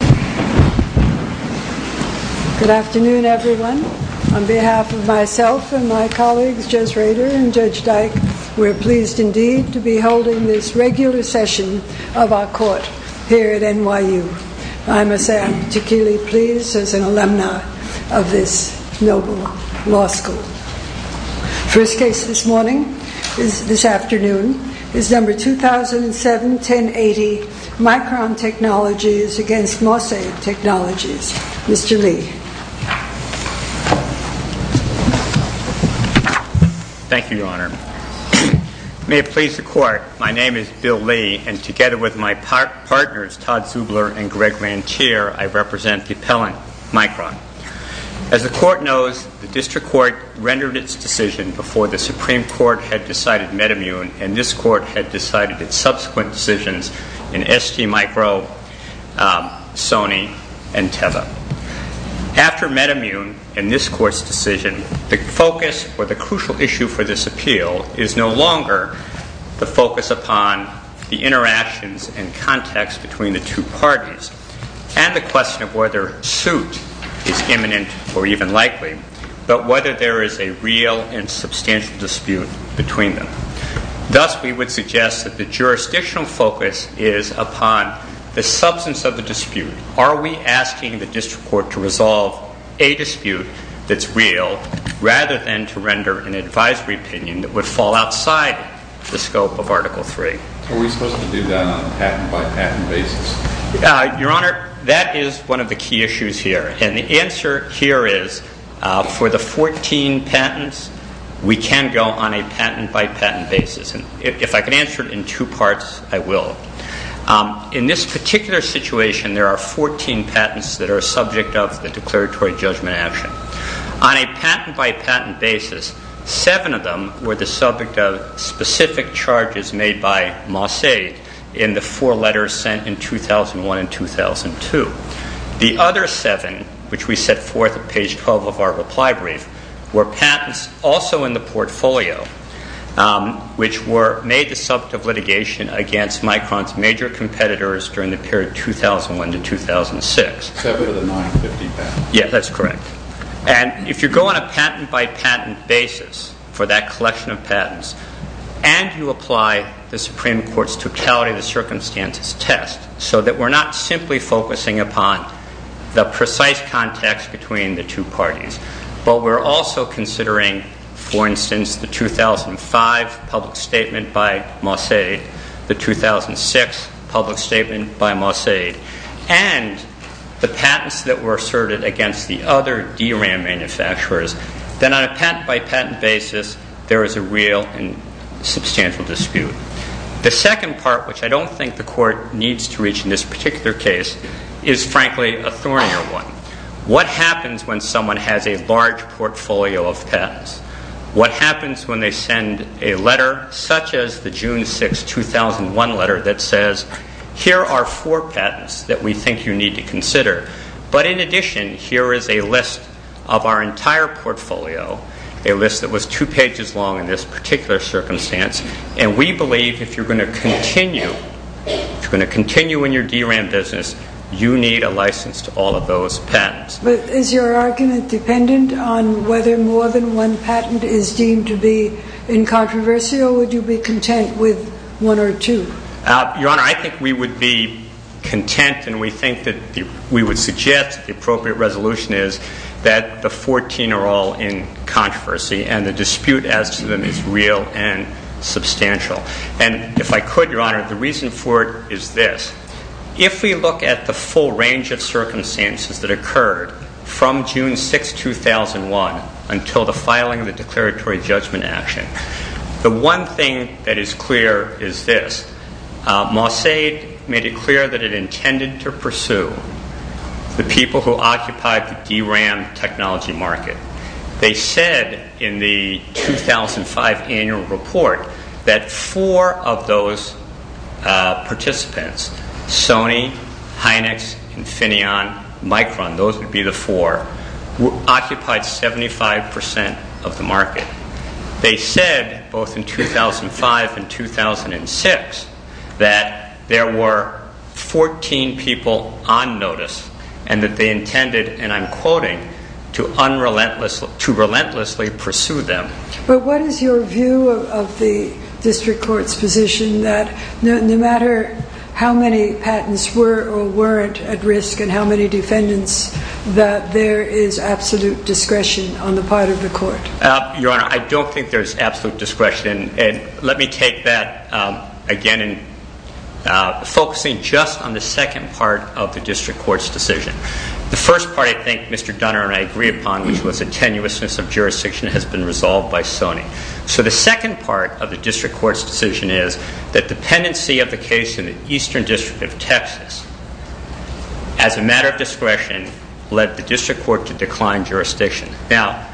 Good afternoon, everyone. On behalf of myself and my colleagues, Judge Rader and Judge Dyke, we are pleased indeed to be holding this regular session of our court here at NYU. I must say I'm particularly pleased as an alumna of this noble law school. First case this morning, this afternoon, is number 2007-1080, Micron Technologies v. Mosaid Technologies. Mr. Lee. Thank you, Your Honor. May it please the court, my name is Bill Lee, and together with my partners, Todd Zubler and Greg Rantier, I represent the appellant, Micron. As the Supreme Court had decided Metamune and this court had decided its subsequent decisions in STMicro, Sony, and Teva. After Metamune and this court's decision, the focus or the crucial issue for this appeal is no longer the focus upon the interactions and context between the two parties and the question of whether suit is imminent or even likely, but whether there is a real and substantial dispute between them. Thus, we would suggest that the jurisdictional focus is upon the substance of the dispute. Are we asking the district court to resolve a dispute that's real rather than to render an advisory opinion that would fall outside the scope of Article III? Are we supposed to do that on a patent by patent basis? Your Honor, that is one of the key issues here. And the answer here is for the 14 patents, we can go on a patent by patent basis. And if I can answer it in two parts, I will. In this particular situation, there are 14 patents that are subject of the declaratory judgment action. On a patent by patent basis, seven of them were the subject of specific charges made by Mossadeq in the four letters sent in 2001 and 2002. The other seven, which we set forth on page 12 of our reply brief, were patents also in the portfolio, which were made the subject of litigation against Micron's major competitors during the period 2001 to 2006. Seven of the 950 patents? Yes, that's correct. And if you go on a patent by patent basis for that collection of patents and you apply the Supreme Court's totality of the circumstances test, so that we're not simply focusing upon the precise context between the two parties, but we're also considering, for instance, the 2005 public statement by Mossadeq, the 2006 public statement by Mossadeq, and the patents that were asserted against the other DRAM manufacturers, then on a patent by patent basis, there is a real and substantial dispute. The second part, which I don't think the Court needs to reach in this particular case, is frankly a thornier one. What happens when someone has a large portfolio of patents? What happens when they send a letter such as the June 6, 2001 letter that says, here are four patents that we think you need to consider, but in addition, here is a list of our entire portfolio, a list that was two pages long in this particular circumstance, and we believe if you're going to continue, if you're going to continue in your DRAM business, you need a license to all of those patents. But is your argument dependent on whether more than one patent is deemed to be incontroversial or would you be content with one or two? Your Honor, I think we would be content and we think that we would suggest the appropriate resolution is that the 14 are all in controversy and the dispute as to them is real and substantial. And if I could, Your Honor, the reason for it is this. If we look at the full range of circumstances that occurred from June 6, 2001 until the filing of the declaratory judgment action, the one thing that is clear is this. Mossadeq made it clear that it intended to pursue the people who occupied the DRAM technology market. They said in the 2005 annual report that four of those participants, Sony, Hynix, Infineon, Micron, those would be the four, occupied 75% of the market. They said, both in 2005 and 2006, that there were 14 people on notice and that they intended, and I'm quoting, to relentlessly pursue them. But what is your view of the district court's position that no matter how many patents were or weren't at risk and how many defendants, that there is absolute discretion on the part of the court? Your Honor, I don't think there is absolute discretion. Let me take that again and focusing just on the second part of the district court's decision. The first part, I think Mr. Dunner and I agree upon, which was the tenuousness of jurisdiction has been resolved by Sony. So the second part of the district court's decision is that dependency of the case in the eastern district of Texas as a matter of discretion led the district court to decline jurisdiction. But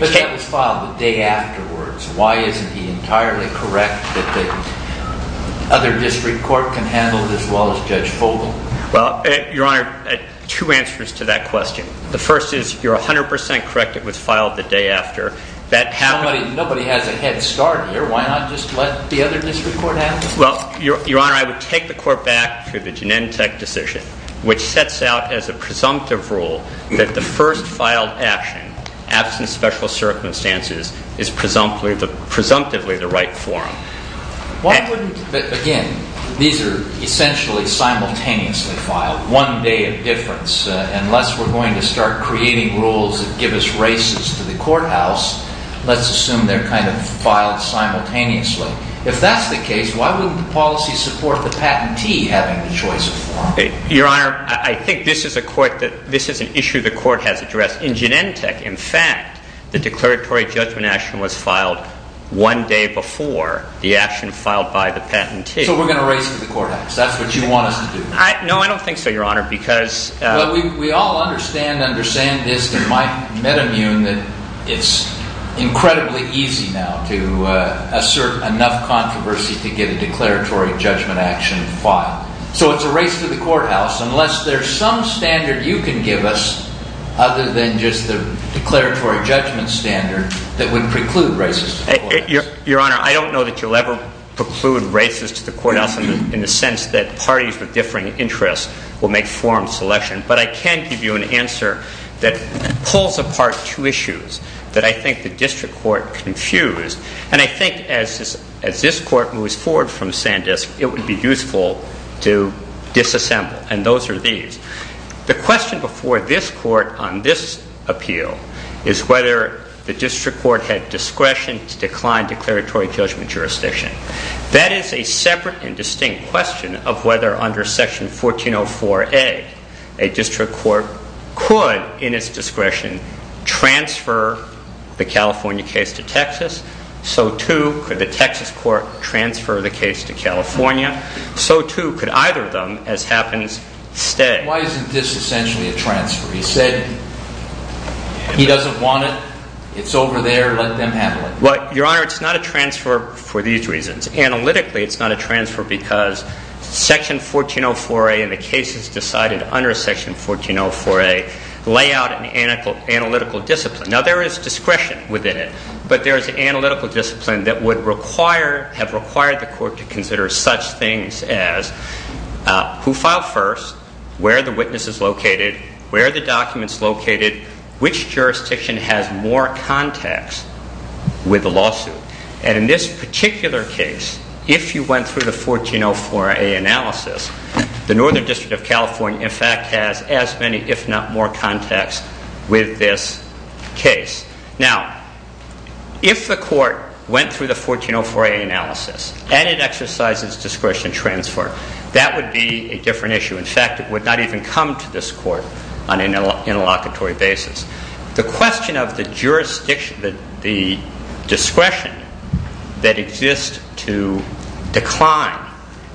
that was filed the day afterwards. Why isn't he entirely correct that the other district court can handle this law as Judge Fogle? Well, Your Honor, two answers to that question. The first is, you're 100% correct it was filed the day after. Nobody has a head start here. Why not just let the other district court handle it? Well, Your Honor, I would take the court back to the Genentech decision, which sets out as a presumptive rule that the first filed action, absent special circumstances, is presumptively the right forum. Again, these are essentially simultaneously filed, one day of difference. Unless we're going to start creating rules that give us races to the courthouse, let's assume they're kind of filed simultaneously. If that's the case, why wouldn't the policy support the patentee having the choice of forum? Your Honor, I think this is an issue the court has addressed. In Genentech, in fact, the declaratory judgment action was filed one day before the action filed by the patentee. So we're going to race to the courthouse. That's what you want us to do? No, I don't think so, Your Honor. Well, we all understand under Sandisk and Metamune that it's incredibly easy now to assert enough controversy to get a declaratory judgment action filed. So it's a race to the courthouse unless there's some standard you can give us other than just the declaratory judgment standard that would preclude races to the courthouse. Your Honor, I don't know that you'll ever preclude races to the courthouse in the sense that parties with differing interests will make forum selection. But I can give you an answer that pulls apart two issues that I think the district court confused. And I think as this court moves forward from Sandisk, it would be useful to disassemble. And those are these. The question before this court on this appeal is whether the district court had discretion to decline declaratory judgment jurisdiction. That is a separate and distinct question of whether under Section 1404A a district court could in its discretion transfer the California case to Texas. So too could the Texas court transfer the case to California. So too could either of them, as happens, stay. Why isn't this essentially a transfer? He said he doesn't want it. It's over there. Let them handle it. Well, Your Honor, it's not a transfer for these reasons. Analytically, it's not a transfer because Section 1404A and the cases decided under Section 1404A lay out an analytical discipline. Now, there is discretion within it, but there is an analytical discipline that would have required the court to consider such things as who filed first, where are the witnesses located, where are the documents located, which jurisdiction has more contacts with the lawsuit. And in this particular case, if you went through the 1404A analysis, the Northern District of California, in fact, has as many, if not more, contacts with this case. Now, if the court went through the 1404A analysis and it exercised its discretion transfer, that would be a different issue. In fact, it would not even come to this court on an interlocutory basis. The question of the discretion that exists to decline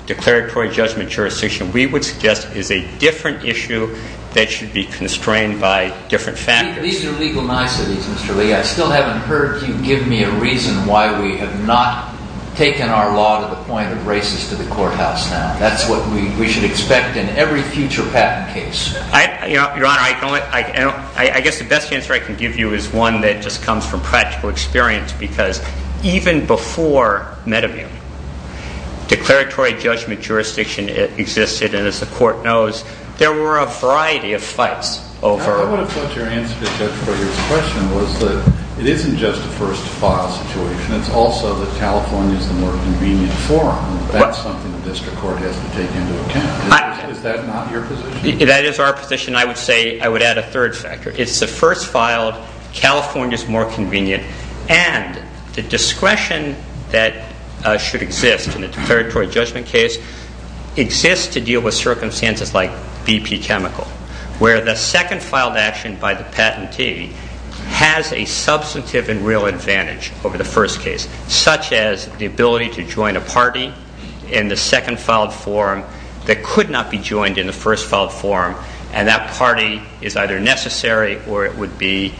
declaratory judgment jurisdiction, we would suggest, is a different issue that should be constrained by different factors. These are legal niceties, Mr. Lee. I still haven't heard you give me a reason why we have not taken our law to the point of races to the courthouse now. That's what we should expect in every future patent case. Your Honor, I guess the best answer I can give you is one that just comes from practical experience, because even before Medivune, declaratory judgment jurisdiction existed, and as the court knows, there were a variety of fights over it. I thought your answer to Judge Breger's question was that it isn't just a first-file situation. It's also that California is the more convenient forum. That's something the district court has to take into account. Is that not your position? That is our position. I would say I would add a third factor. It's the first-filed, California's more convenient, and the discretion that should exist in a declaratory judgment case exists to deal with circumstances like BP Chemical, where the second-filed action by the patentee has a substantive and real advantage over the first case, such as the ability to join a party in the second-filed forum that could not be joined in the first-filed forum, and that party is either necessary or it would be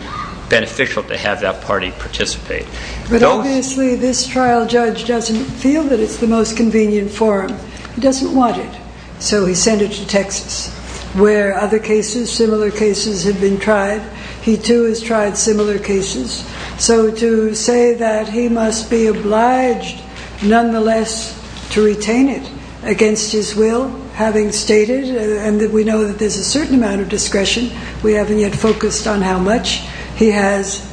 beneficial to have that party participate. But obviously this trial judge doesn't feel that it's the most convenient forum. He doesn't want it, so he sent it to Texas, where other cases, similar cases, have been tried. He, too, has tried similar cases. So to say that he must be obliged, nonetheless, to retain it against his will, having stated, and we know that there's a certain amount of discretion, we haven't yet focused on how much, he is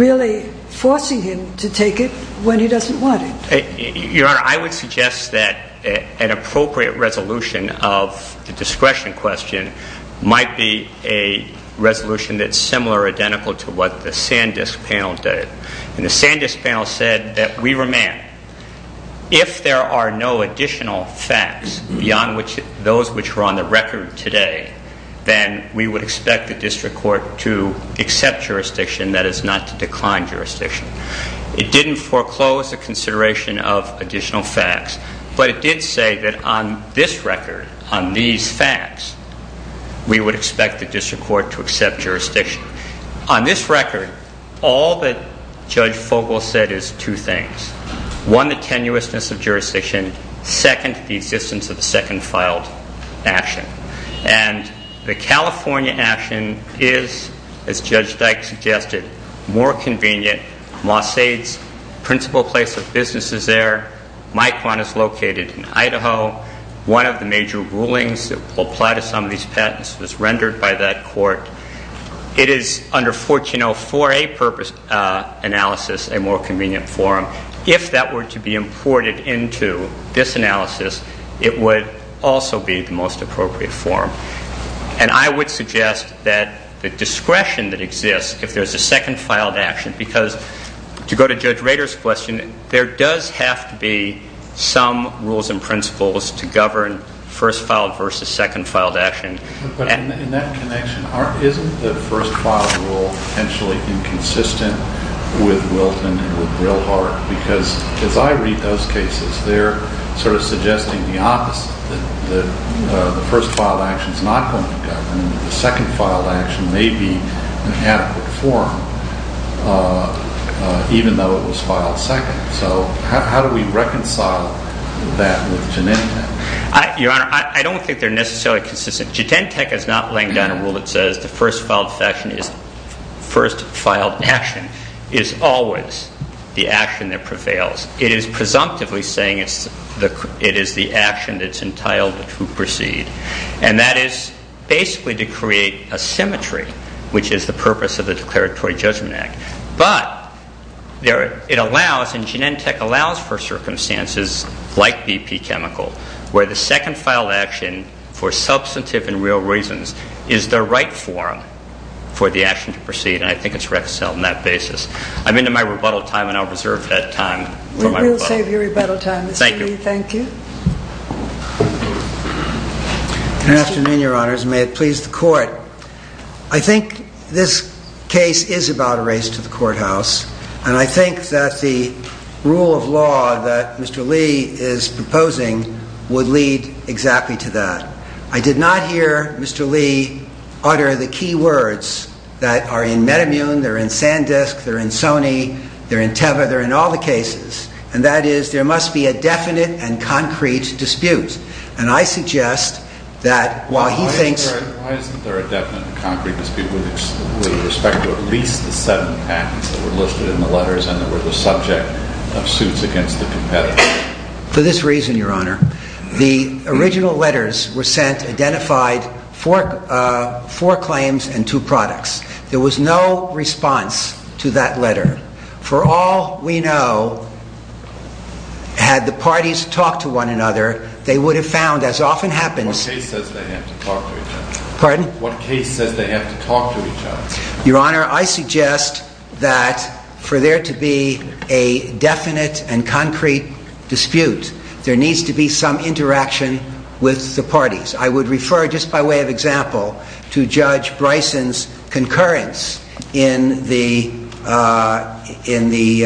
really forcing him to take it when he doesn't want it. Your Honor, I would suggest that an appropriate resolution of the discretion question might be a resolution that's similar or identical to what the Sandisk panel did. The Sandisk panel said that we remand. If there are no additional facts beyond those which were on the record today, then we would expect the district court to accept jurisdiction, that is, not to decline jurisdiction. It didn't foreclose the consideration of additional facts, but it did say that on this record, on these facts, we would expect the district court to accept jurisdiction. On this record, all that Judge Fogle said is two things. One, the tenuousness of jurisdiction. Second, the existence of a second filed action. And the California action is, as Judge Dyke suggested, more convenient. Mossade's principal place of business is there. Micron is located in Idaho. One of the major rulings that will apply to some of these patents was rendered by that court. It is under 14.04a purpose analysis, a more convenient form. If that were to be imported into this analysis, it would also be the most appropriate form. And I would suggest that the discretion that exists, if there's a second filed action, because to go to Judge Rader's question, there does have to be some rules and principles to govern first filed versus second filed action. But in that connection, isn't the first filed rule potentially inconsistent with Wilton and with Brilhart? Because as I read those cases, they're sort of suggesting the opposite, that the first filed action is not going to govern, that the second filed action may be an adequate form, even though it was filed second. So how do we reconcile that with Janetta? Your Honor, I don't think they're necessarily consistent. Genentech is not laying down a rule that says the first filed action is always the action that prevails. It is presumptively saying it is the action that's entitled to proceed. And that is basically to create a symmetry, which is the purpose of the Declaratory Judgment Act. But it allows, and Genentech allows for circumstances like BP Chemical, where the second filed action, for substantive and real reasons, is the right form for the action to proceed. And I think it's reconciled on that basis. I'm into my rebuttal time, and I'll reserve that time for my rebuttal. We will save your rebuttal time, Mr. Lee. Thank you. Thank you. Good afternoon, Your Honors, and may it please the Court. I think this case is about a race to the courthouse, and I think that the rule of law that Mr. Lee is proposing would lead exactly to that. I did not hear Mr. Lee utter the key words that are in Metamune, they're in Sandisk, they're in Sony, they're in Teva, they're in all the cases, and that is there must be a definite and concrete dispute. And I suggest that while he thinks... Why isn't there a definite and concrete dispute with respect to at least the seven patents that were listed in the letters and that were the subject of suits against the competitors? For this reason, Your Honor, the original letters were sent, identified, four claims and two products. There was no response to that letter. For all we know, had the parties talked to one another, they would have found, as often happens... What case says they have to talk to each other? Pardon? What case says they have to talk to each other? Your Honor, I suggest that for there to be a definite and concrete dispute, there needs to be some interaction with the parties. I would refer, just by way of example, to Judge Bryson's concurrence in the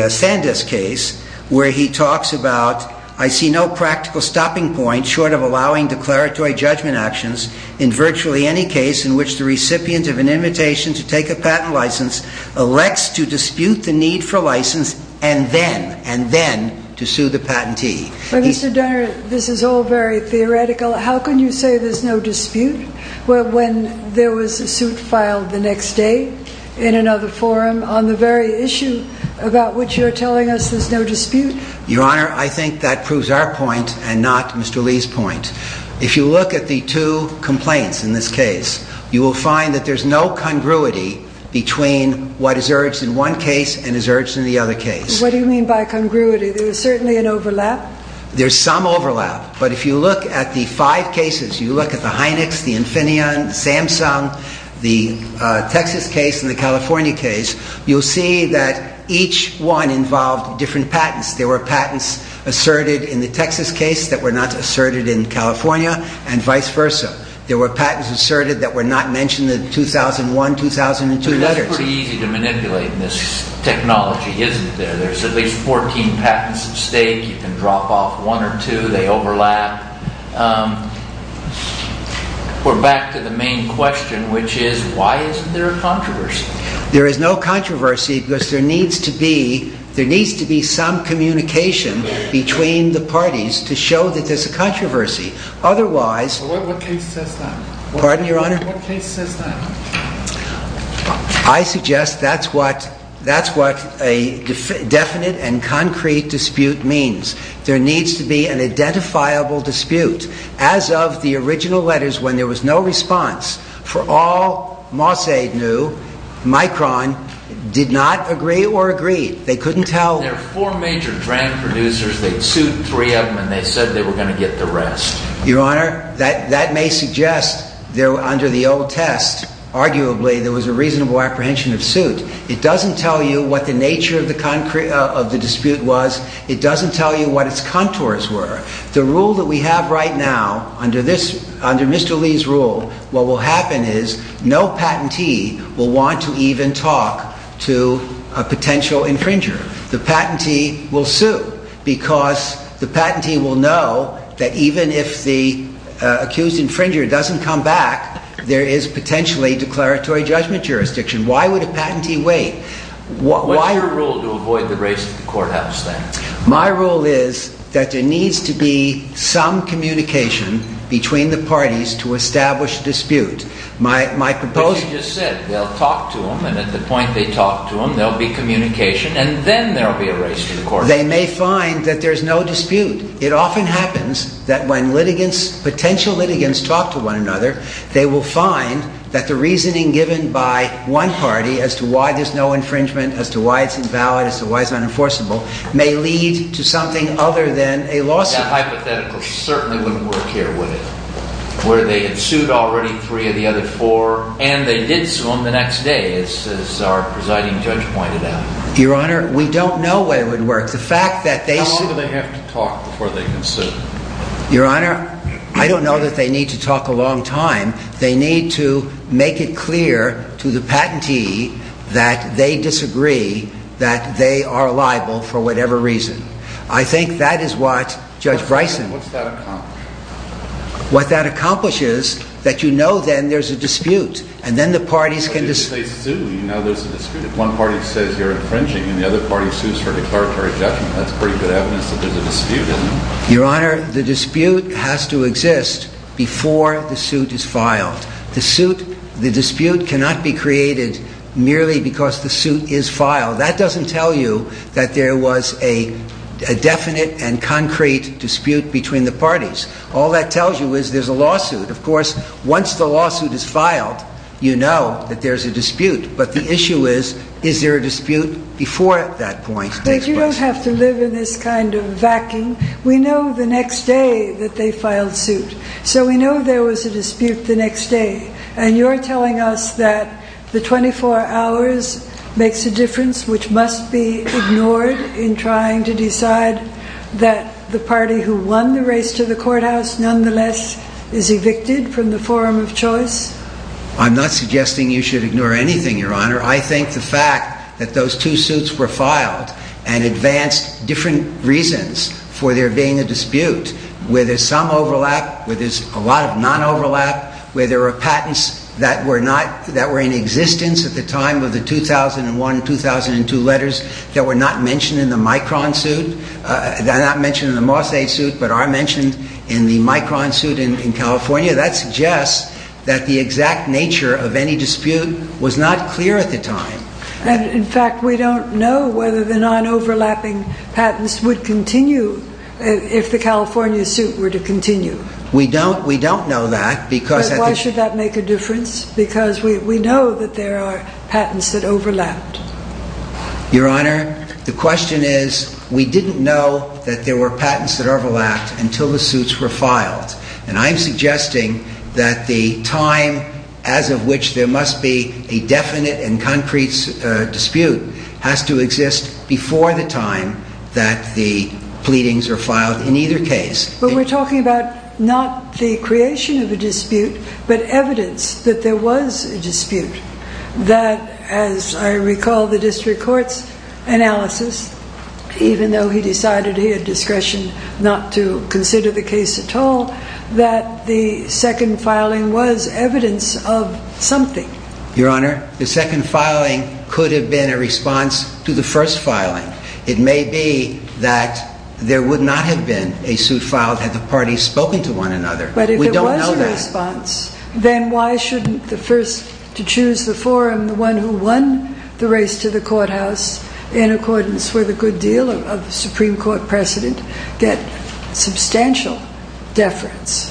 Sandisk case, where he talks about, I see no practical stopping point short of allowing declaratory judgment actions in virtually any case in which the recipient of an invitation to take a patent license elects to dispute the need for a license and then, and then, to sue the patentee. But, Mr. Donner, this is all very theoretical. How can you say there's no dispute when there was a suit filed the next day in another forum on the very issue about which you're telling us there's no dispute? Your Honor, I think that proves our point and not Mr. Lee's point. If you look at the two complaints in this case, you will find that there's no congruity between what is urged in one case and is urged in the other case. What do you mean by congruity? There's certainly an overlap? There's some overlap, but if you look at the five cases, you look at the Hynix, the Infineon, the Samsung, the Texas case and the California case, you'll see that each one involved different patents. There were patents asserted in the Texas case that were not asserted in California and vice versa. There were patents asserted that were not mentioned in the 2001-2002 letters. That's pretty easy to manipulate. This technology isn't there. There's at least 14 patents at stake. You can drop off one or two. They overlap. We're back to the main question, which is why isn't there a controversy? There is no controversy because there needs to be some communication between the parties to show that there's a controversy. Otherwise... What case says that? Pardon, Your Honor? What case says that? I suggest that's what a definite and concrete dispute means. There needs to be an identifiable dispute. As of the original letters, when there was no response, for all Mossade knew, Micron did not agree or agree. They couldn't tell... There were four major brand producers. They sued three of them and they said they were going to get the rest. Your Honor, that may suggest that under the old test, arguably, there was a reasonable apprehension of suit. It doesn't tell you what the nature of the dispute was. It doesn't tell you what its contours were. The rule that we have right now, under Mr. Lee's rule, what will happen is no patentee will want to even talk to a potential infringer. The patentee will sue because the patentee will know that even if the accused infringer doesn't come back, there is potentially declaratory judgment jurisdiction. Why would a patentee wait? What's your rule to avoid the race to the courthouse then? My rule is that there needs to be some communication between the parties to establish dispute. My proposal... But you just said they'll talk to him and at the point they talk to him, there'll be communication and then there'll be a race to the courthouse. They may find that there's no dispute. It often happens that when litigants, potential litigants, talk to one another, they will find that the reasoning given by one party as to why there's no infringement, as to why it's invalid, as to why it's unenforceable, may lead to something other than a lawsuit. That hypothetical certainly wouldn't work here, would it? Where they had sued already three of the other four and they did sue him the next day, as our presiding judge pointed out. Your Honor, we don't know where it would work. The fact that they sued... Your Honor, I don't know that they need to talk a long time. They need to make it clear to the patentee that they disagree, that they are liable for whatever reason. I think that is what Judge Bryson... What's that accomplish? What that accomplishes, that you know then there's a dispute and then the parties can... If they sue, you know there's a dispute. If one party says you're infringing and the other party sues for declaratory judgment, that's pretty good evidence that there's a dispute, isn't it? Your Honor, the dispute has to exist before the suit is filed. The dispute cannot be created merely because the suit is filed. That doesn't tell you that there was a definite and concrete dispute between the parties. All that tells you is there's a lawsuit. Of course, once the lawsuit is filed, you know that there's a dispute. But the issue is, is there a dispute before that point? But you don't have to live in this kind of vacuum. We know the next day that they filed suit. So we know there was a dispute the next day. And you're telling us that the 24 hours makes a difference which must be ignored in trying to decide that the party who won the race to the courthouse nonetheless is evicted from the forum of choice? I'm not suggesting you should ignore anything, Your Honor. I think the fact that those two suits were filed and advanced different reasons for there being a dispute, where there's some overlap, where there's a lot of non-overlap, where there were patents that were not... that were in existence at the time of the 2001-2002 letters that were not mentioned in the Micron suit, not mentioned in the Mossade suit, but are mentioned in the Micron suit in California, that suggests that the exact nature of any dispute was not clear at the time. And, in fact, we don't know whether the non-overlapping patents would continue if the California suit were to continue. We don't know that because... Why should that make a difference? Because we know that there are patents that overlapped. Your Honor, the question is, we didn't know that there were patents that overlapped until the suits were filed. And I'm suggesting that the time as of which there must be a definite and concrete dispute has to exist before the time that the pleadings are filed in either case. But we're talking about not the creation of a dispute, but evidence that there was a dispute, that, as I recall the district court's analysis, even though he decided he had discretion not to consider the case at all, that the second filing was evidence of something. Your Honor, the second filing could have been a response to the first filing. It may be that there would not have been a suit filed had the parties spoken to one another. But if there was a response, then why shouldn't the first to choose the forum, the one who won the race to the courthouse in accordance with a good deal of the Supreme Court precedent, get substantial deference?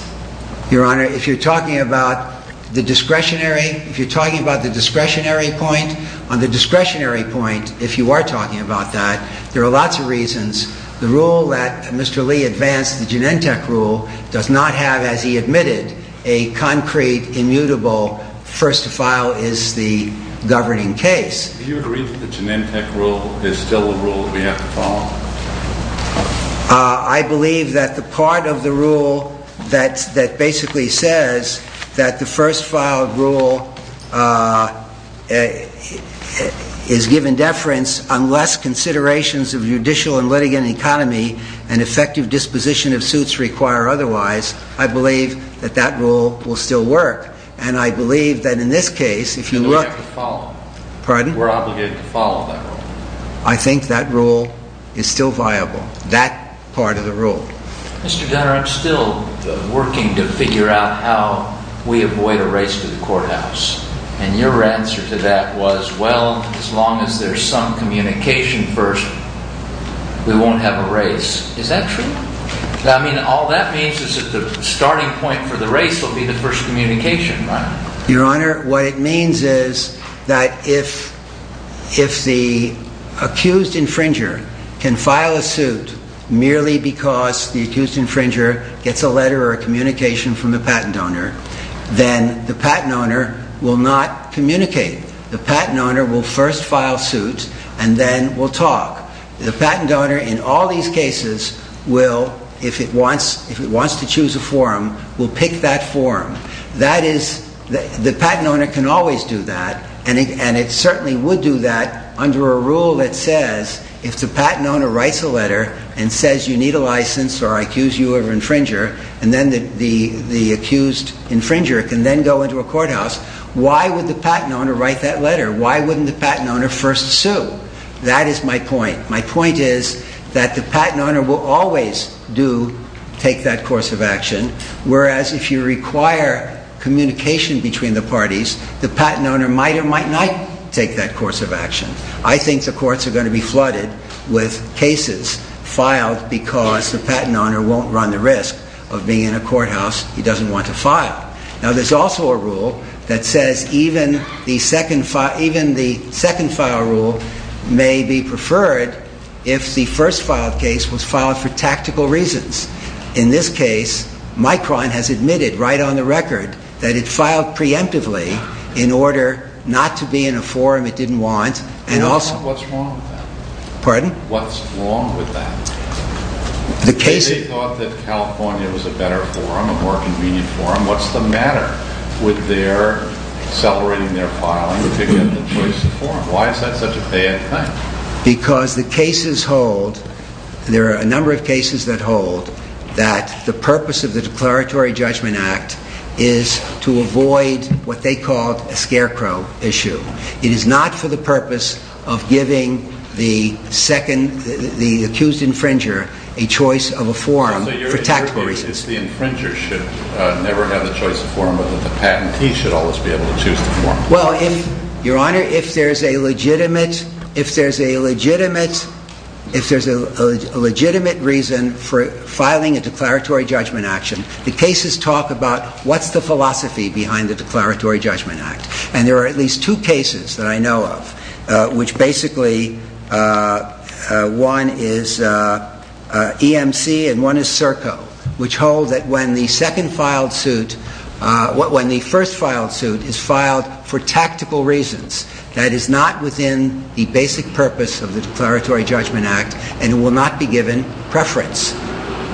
Your Honor, if you're talking about the discretionary, if you're talking about the discretionary point, on the discretionary point, if you are talking about that, there are lots of reasons. The rule that Mr. Lee advanced, the Genentech rule, does not have, as he admitted, a concrete, immutable first to file is the governing case. Do you agree that the Genentech rule is still a rule that we have to follow? I believe that the part of the rule that basically says that the first filed rule is given deference unless considerations of judicial and litigant economy and effective disposition of suits require otherwise, I believe that that rule will still work. And I believe that in this case, if you look... And we have to follow. Pardon? We're obligated to follow that rule. I think that rule is still viable, that part of the rule. Mr. Gunner, I'm still working to figure out how we avoid a race to the courthouse. And your answer to that was, well, as long as there's some communication first, we won't have a race. Is that true? I mean, all that means is that the starting point for the race will be the first communication, right? Your Honor, what it means is that if the accused infringer can file a suit merely because the accused infringer gets a letter or a communication from the patent owner, then the patent owner will not communicate. The patent owner will first file suit and then will talk. The patent owner, in all these cases, will, if it wants to choose a forum, will pick that forum. That is... The patent owner can always do that, and it certainly would do that under a rule that says if the patent owner writes a letter and says you need a license or I accuse you of infringer and then the accused infringer can then go into a courthouse, why would the patent owner write that letter? Why wouldn't the patent owner first sue? That is my point. My point is that the patent owner will always do take that course of action, whereas if you require communication between the parties, the patent owner might or might not take that course of action. I think the courts are going to be flooded with cases filed because the patent owner won't run the risk. Of being in a courthouse, he doesn't want to file. Now there's also a rule that says even the second file rule may be preferred if the first filed case was filed for tactical reasons. In this case, Micron has admitted right on the record that it filed preemptively in order not to be in a forum it didn't want. What's wrong with that? Pardon? What's wrong with that? They thought that California was a better forum, a more convenient forum. What's the matter with their accelerating their filing to get the choice of forum? Why is that such a bad thing? Because the cases hold, there are a number of cases that hold, that the purpose of the Declaratory Judgment Act is to avoid what they called a scarecrow issue. It is not for the purpose of giving the second, the accused infringer, a choice of a forum for tactical reasons. The infringer should never have the choice of forum, but the patentee should always be able to choose the forum. Well, Your Honor, if there's a legitimate, if there's a legitimate, if there's a legitimate reason for filing a Declaratory Judgment Act, the cases talk about what's the philosophy behind the Declaratory Judgment Act. And there are at least two cases that I know of which basically, one is EMC and one is Serco, which hold that when the second filed suit, when the first filed suit is filed for tactical reasons, that is not within the basic purpose of the Declaratory Judgment Act and will not be given preference.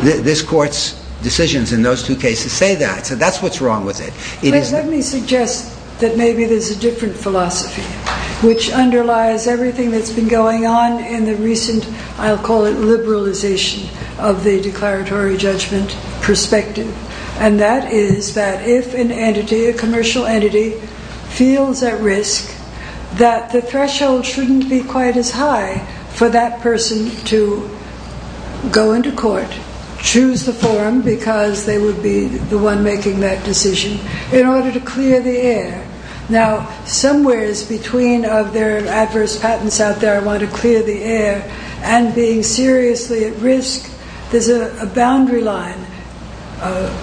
This Court's decisions in those two cases say that. So that's what's wrong with it. Let me suggest that maybe there's a different philosophy which underlies everything that's been going on in the recent, I'll call it liberalization, of the Declaratory Judgment perspective. And that is that if an entity, a commercial entity, feels at risk, that the threshold shouldn't be quite as high for that person to go into court, choose the forum, because they would be the one making that decision, in order to clear the air. Now, somewhere in between of their adverse patents out there wanting to clear the air and being seriously at risk, there's a boundary line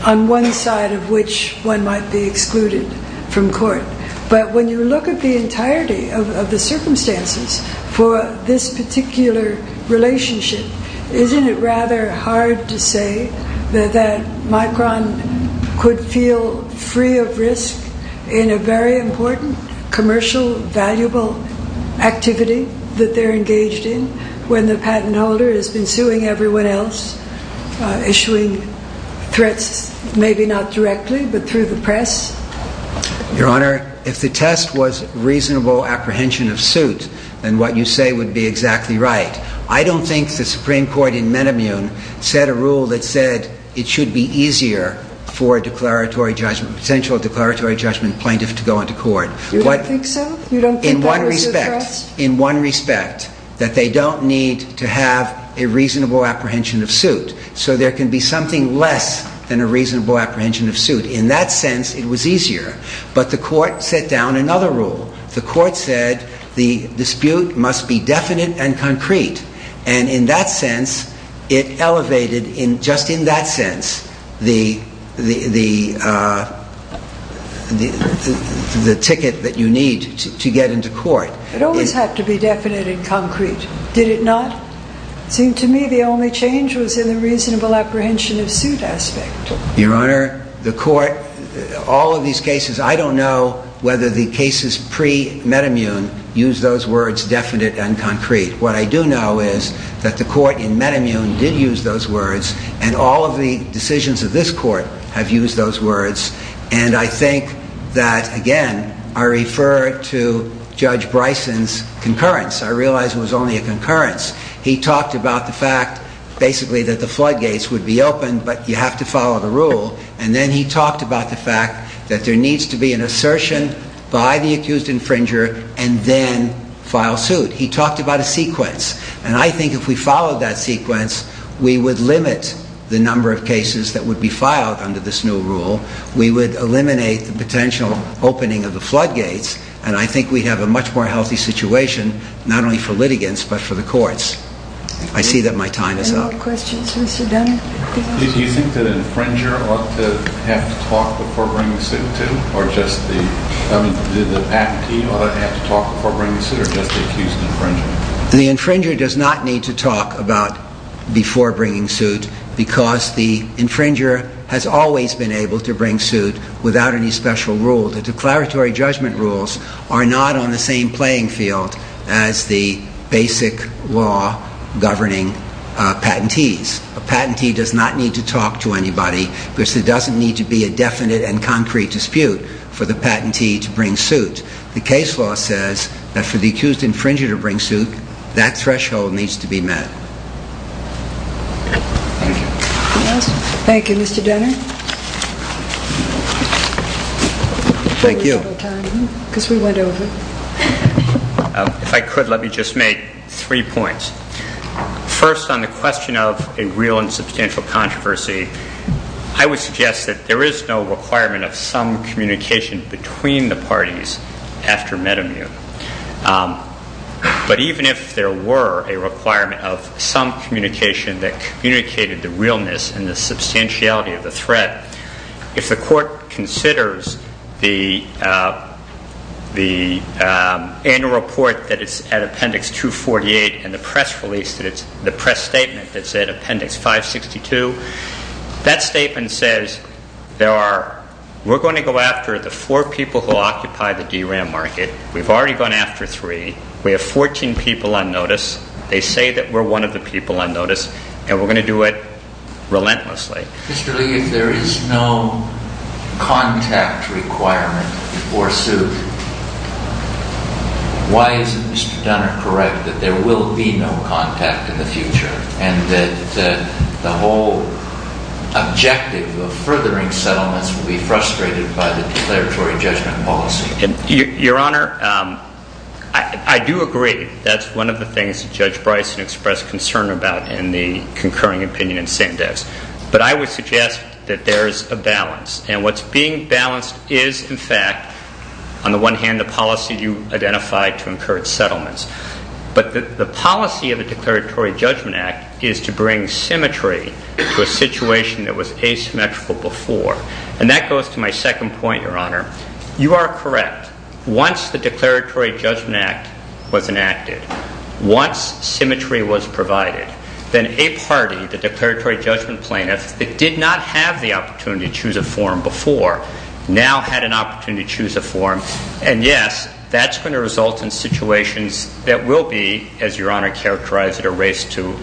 on one side of which one might be excluded from court. But when you look at the entirety of the circumstances for this particular relationship, isn't it rather hard to say that Micron could feel free of risk in a very important, commercial, valuable activity that they're engaged in when the patent holder has been suing everyone else, issuing threats, maybe not directly, but through the press? Your Honor, if the test was reasonable apprehension of suit, then what you say would be exactly right. I don't think the Supreme Court in Menemune set a rule that said it should be easier for a potential declaratory judgment plaintiff to go into court. You don't think so? In one respect, that they don't need to have a reasonable apprehension of suit. So there can be something less than a reasonable apprehension of suit. In that sense, it was easier. But the Court set down another rule. The Court said the dispute must be definite and concrete. And in that sense, it elevated, just in that sense, the ticket that you need to get into court. It always had to be definite and concrete. Did it not? It seemed to me the only change was in the reasonable apprehension of suit aspect. Your Honor, the Court, all of these cases, I don't know whether the cases pre-Menemune used those words definite and concrete. What I do know is that the Court in Menemune did use those words, and all of the decisions of this Court have used those words. And I think that, again, I refer to Judge Bryson's concurrence. I realize it was only a concurrence. He talked about the fact, basically, that the floodgates would be open, but you have to follow the rule. And then he talked about the fact that there needs to be an assertion by the accused infringer and then file suit. He talked about a sequence. And I think if we followed that sequence, we would limit the number of cases that would be filed under this new rule. We would eliminate the potential opening of the floodgates. And I think we'd have a much more healthy situation, not only for litigants, but for the courts. I see that my time is up. Any more questions for Mr. Dunn? Do you think the infringer ought to have to talk before bringing the suit to him? Or just the... I mean, did the patentee ought to have to talk before bringing the suit, or just the accused infringer? The infringer does not need to talk before bringing suit, because the infringer has always been able to bring suit without any special rule. The declaratory judgment rules are not on the same playing field as the basic law governing patentees. A patentee does not need to talk to anybody, because there doesn't need to be a definite and concrete dispute for the patentee to bring suit. The case law says that for the accused infringer to bring suit, that threshold needs to be met. Thank you. Thank you, Mr. Dunner. Thank you. Because we went over. If I could, let me just make three points. First, on the question of a real and substantial controversy, I would suggest that there is no requirement of some communication between the parties after metamute. But even if there were a requirement of some communication that communicated the realness and the substantiality of the threat, if the court considers the annual report that is at Appendix 248 and the press statement that is at Appendix 562, that statement says, we're going to go after the four people who occupy the DRAM market. We've already gone after three. We have 14 people on notice. They say that we're one of the people on notice and we're going to do it relentlessly. Mr. Lee, if there is no contact requirement before suit, why isn't Mr. Dunner correct that there will be no contact in the future and that the whole objective of furthering settlements will be frustrated by the declaratory judgment policy? Your Honor, I do agree. That's one of the things that Judge Bryson expressed concern about in the concurring opinion in Sandex. But I would suggest that there is a balance. And what's being balanced is, in fact, on the one hand, the policy you identified to incur settlements. But the policy of the Declaratory Judgment Act is to bring symmetry to a situation that was asymmetrical before. And that goes to my second point, Your Honor. You are correct. Once the Declaratory Judgment Act was enacted, once symmetry was provided, then a party, the declaratory judgment plaintiff, that did not have the opportunity to choose a forum before, now had an opportunity to choose a forum. And yes, that's going to result in situations that will be, as Your Honor characterized it, a race to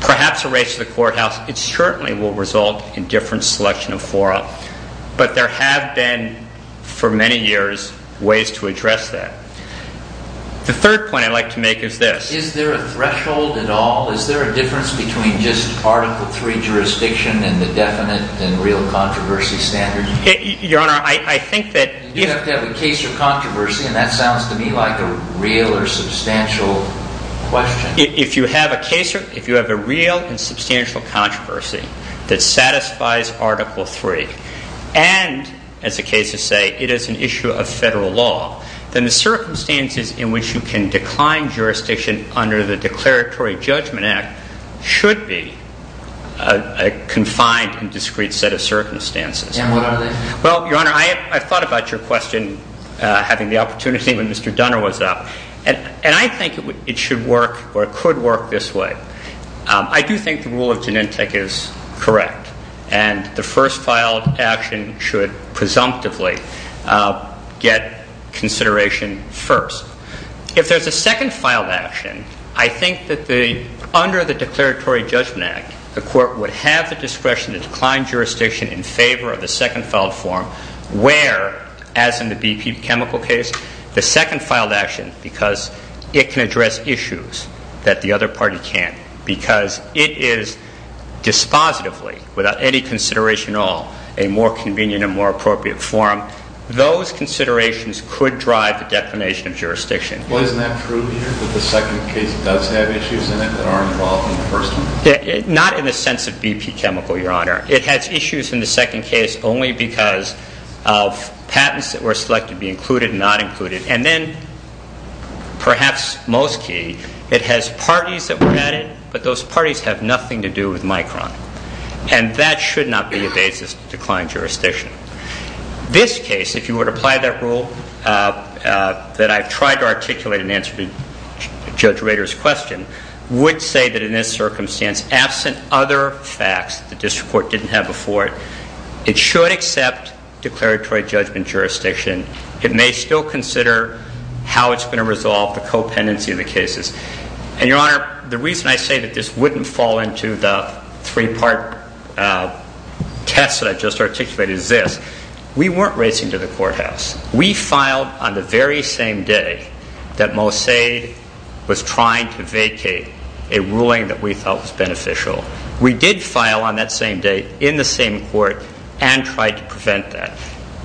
perhaps a race to the courthouse. It certainly will result in different selection of forum. But there have been, for many years, ways to address that. The third point I'd like to make is this. Is there a threshold at all? Is there a difference between just Article III jurisdiction and the definite and real controversy standards? Your Honor, I think that... You do have to have a case or controversy, and that sounds to me like a real or substantial question. If you have a case or... If you have a real and substantial controversy that satisfies Article III, and, as the cases say, it is an issue of federal law, then the circumstances in which you can decline jurisdiction under the Declaratory Judgment Act should be a confined and discrete set of circumstances. And what are they? Well, Your Honor, I thought about your question having the opportunity when Mr. Dunner was up. And I think it should work or it could work this way. I do think the rule of genentech is correct. And the first filed action should presumptively get consideration first. If there's a second filed action, I think that under the Declaratory Judgment Act, the Court would have the discretion to decline jurisdiction in favor of the second filed form where, as in the BP chemical case, the second filed action, because it can address issues that the other party can't, because it is dispositively, without any consideration at all, a more convenient and more appropriate form. Those considerations could drive the declination of jurisdiction. Well, isn't that true here that the second case does have issues in it that are involved in the first one? Not in the sense of BP chemical, Your Honor. It has issues in the second case only because of patents that were selected to be included and not included. And then, perhaps most key, it has parties that were added, but those parties have nothing to do with Micron. And that should not be a basis to decline jurisdiction. This case, if you were to apply that rule that I've tried to articulate in answer to Judge Rader's question, would say that in this circumstance, absent other facts that the District Court didn't have before it, it should accept declaratory judgment jurisdiction. It may still consider how it's going to resolve the co-pendency of the cases. And, Your Honor, the reason I say that this wouldn't fall into the three-part test that I just articulated is this. We weren't racing to the courthouse. We filed on the very same day that Mossade was trying to vacate a ruling that we thought was beneficial. We did file on that same day in the same court and tried to prevent that.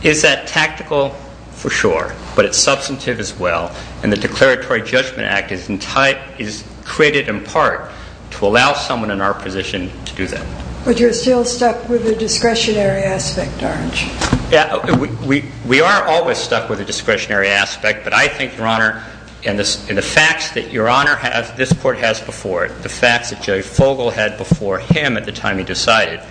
Is that tactical? For sure. But it's substantive as well. And the Declaratory Judgment Act is created in part to allow someone in our position to do that. But you're still stuck with the discretionary aspect, aren't you? We are always stuck with the discretionary aspect, but I think, Your Honor, and the facts that Your Honor has, this Court has before it, the facts that Jerry Fogle had before him at the time he decided,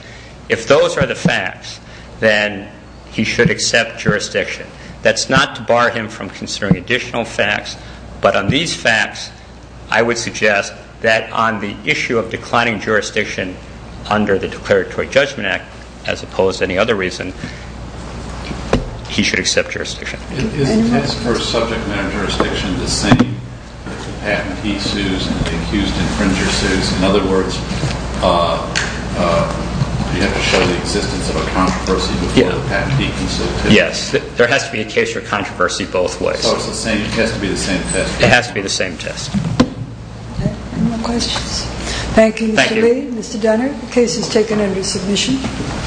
if those are the facts, then he should accept jurisdiction. That's not to bar him from considering additional facts, but on these facts, I would suggest that on the issue of declining jurisdiction under the Declaratory Judgment Act, as opposed to any other reason, he should accept jurisdiction. Isn't this for subject matter jurisdiction the same as the patentee sues and the accused infringer sues? In other words, you have to show the existence of a controversy before the patentee can sue too? Yes. There has to be a case for controversy both ways. So it has to be the same test? It has to be the same test. Any more questions? Thank you, Mr. Lee. Mr. Donner, the case is taken under submission.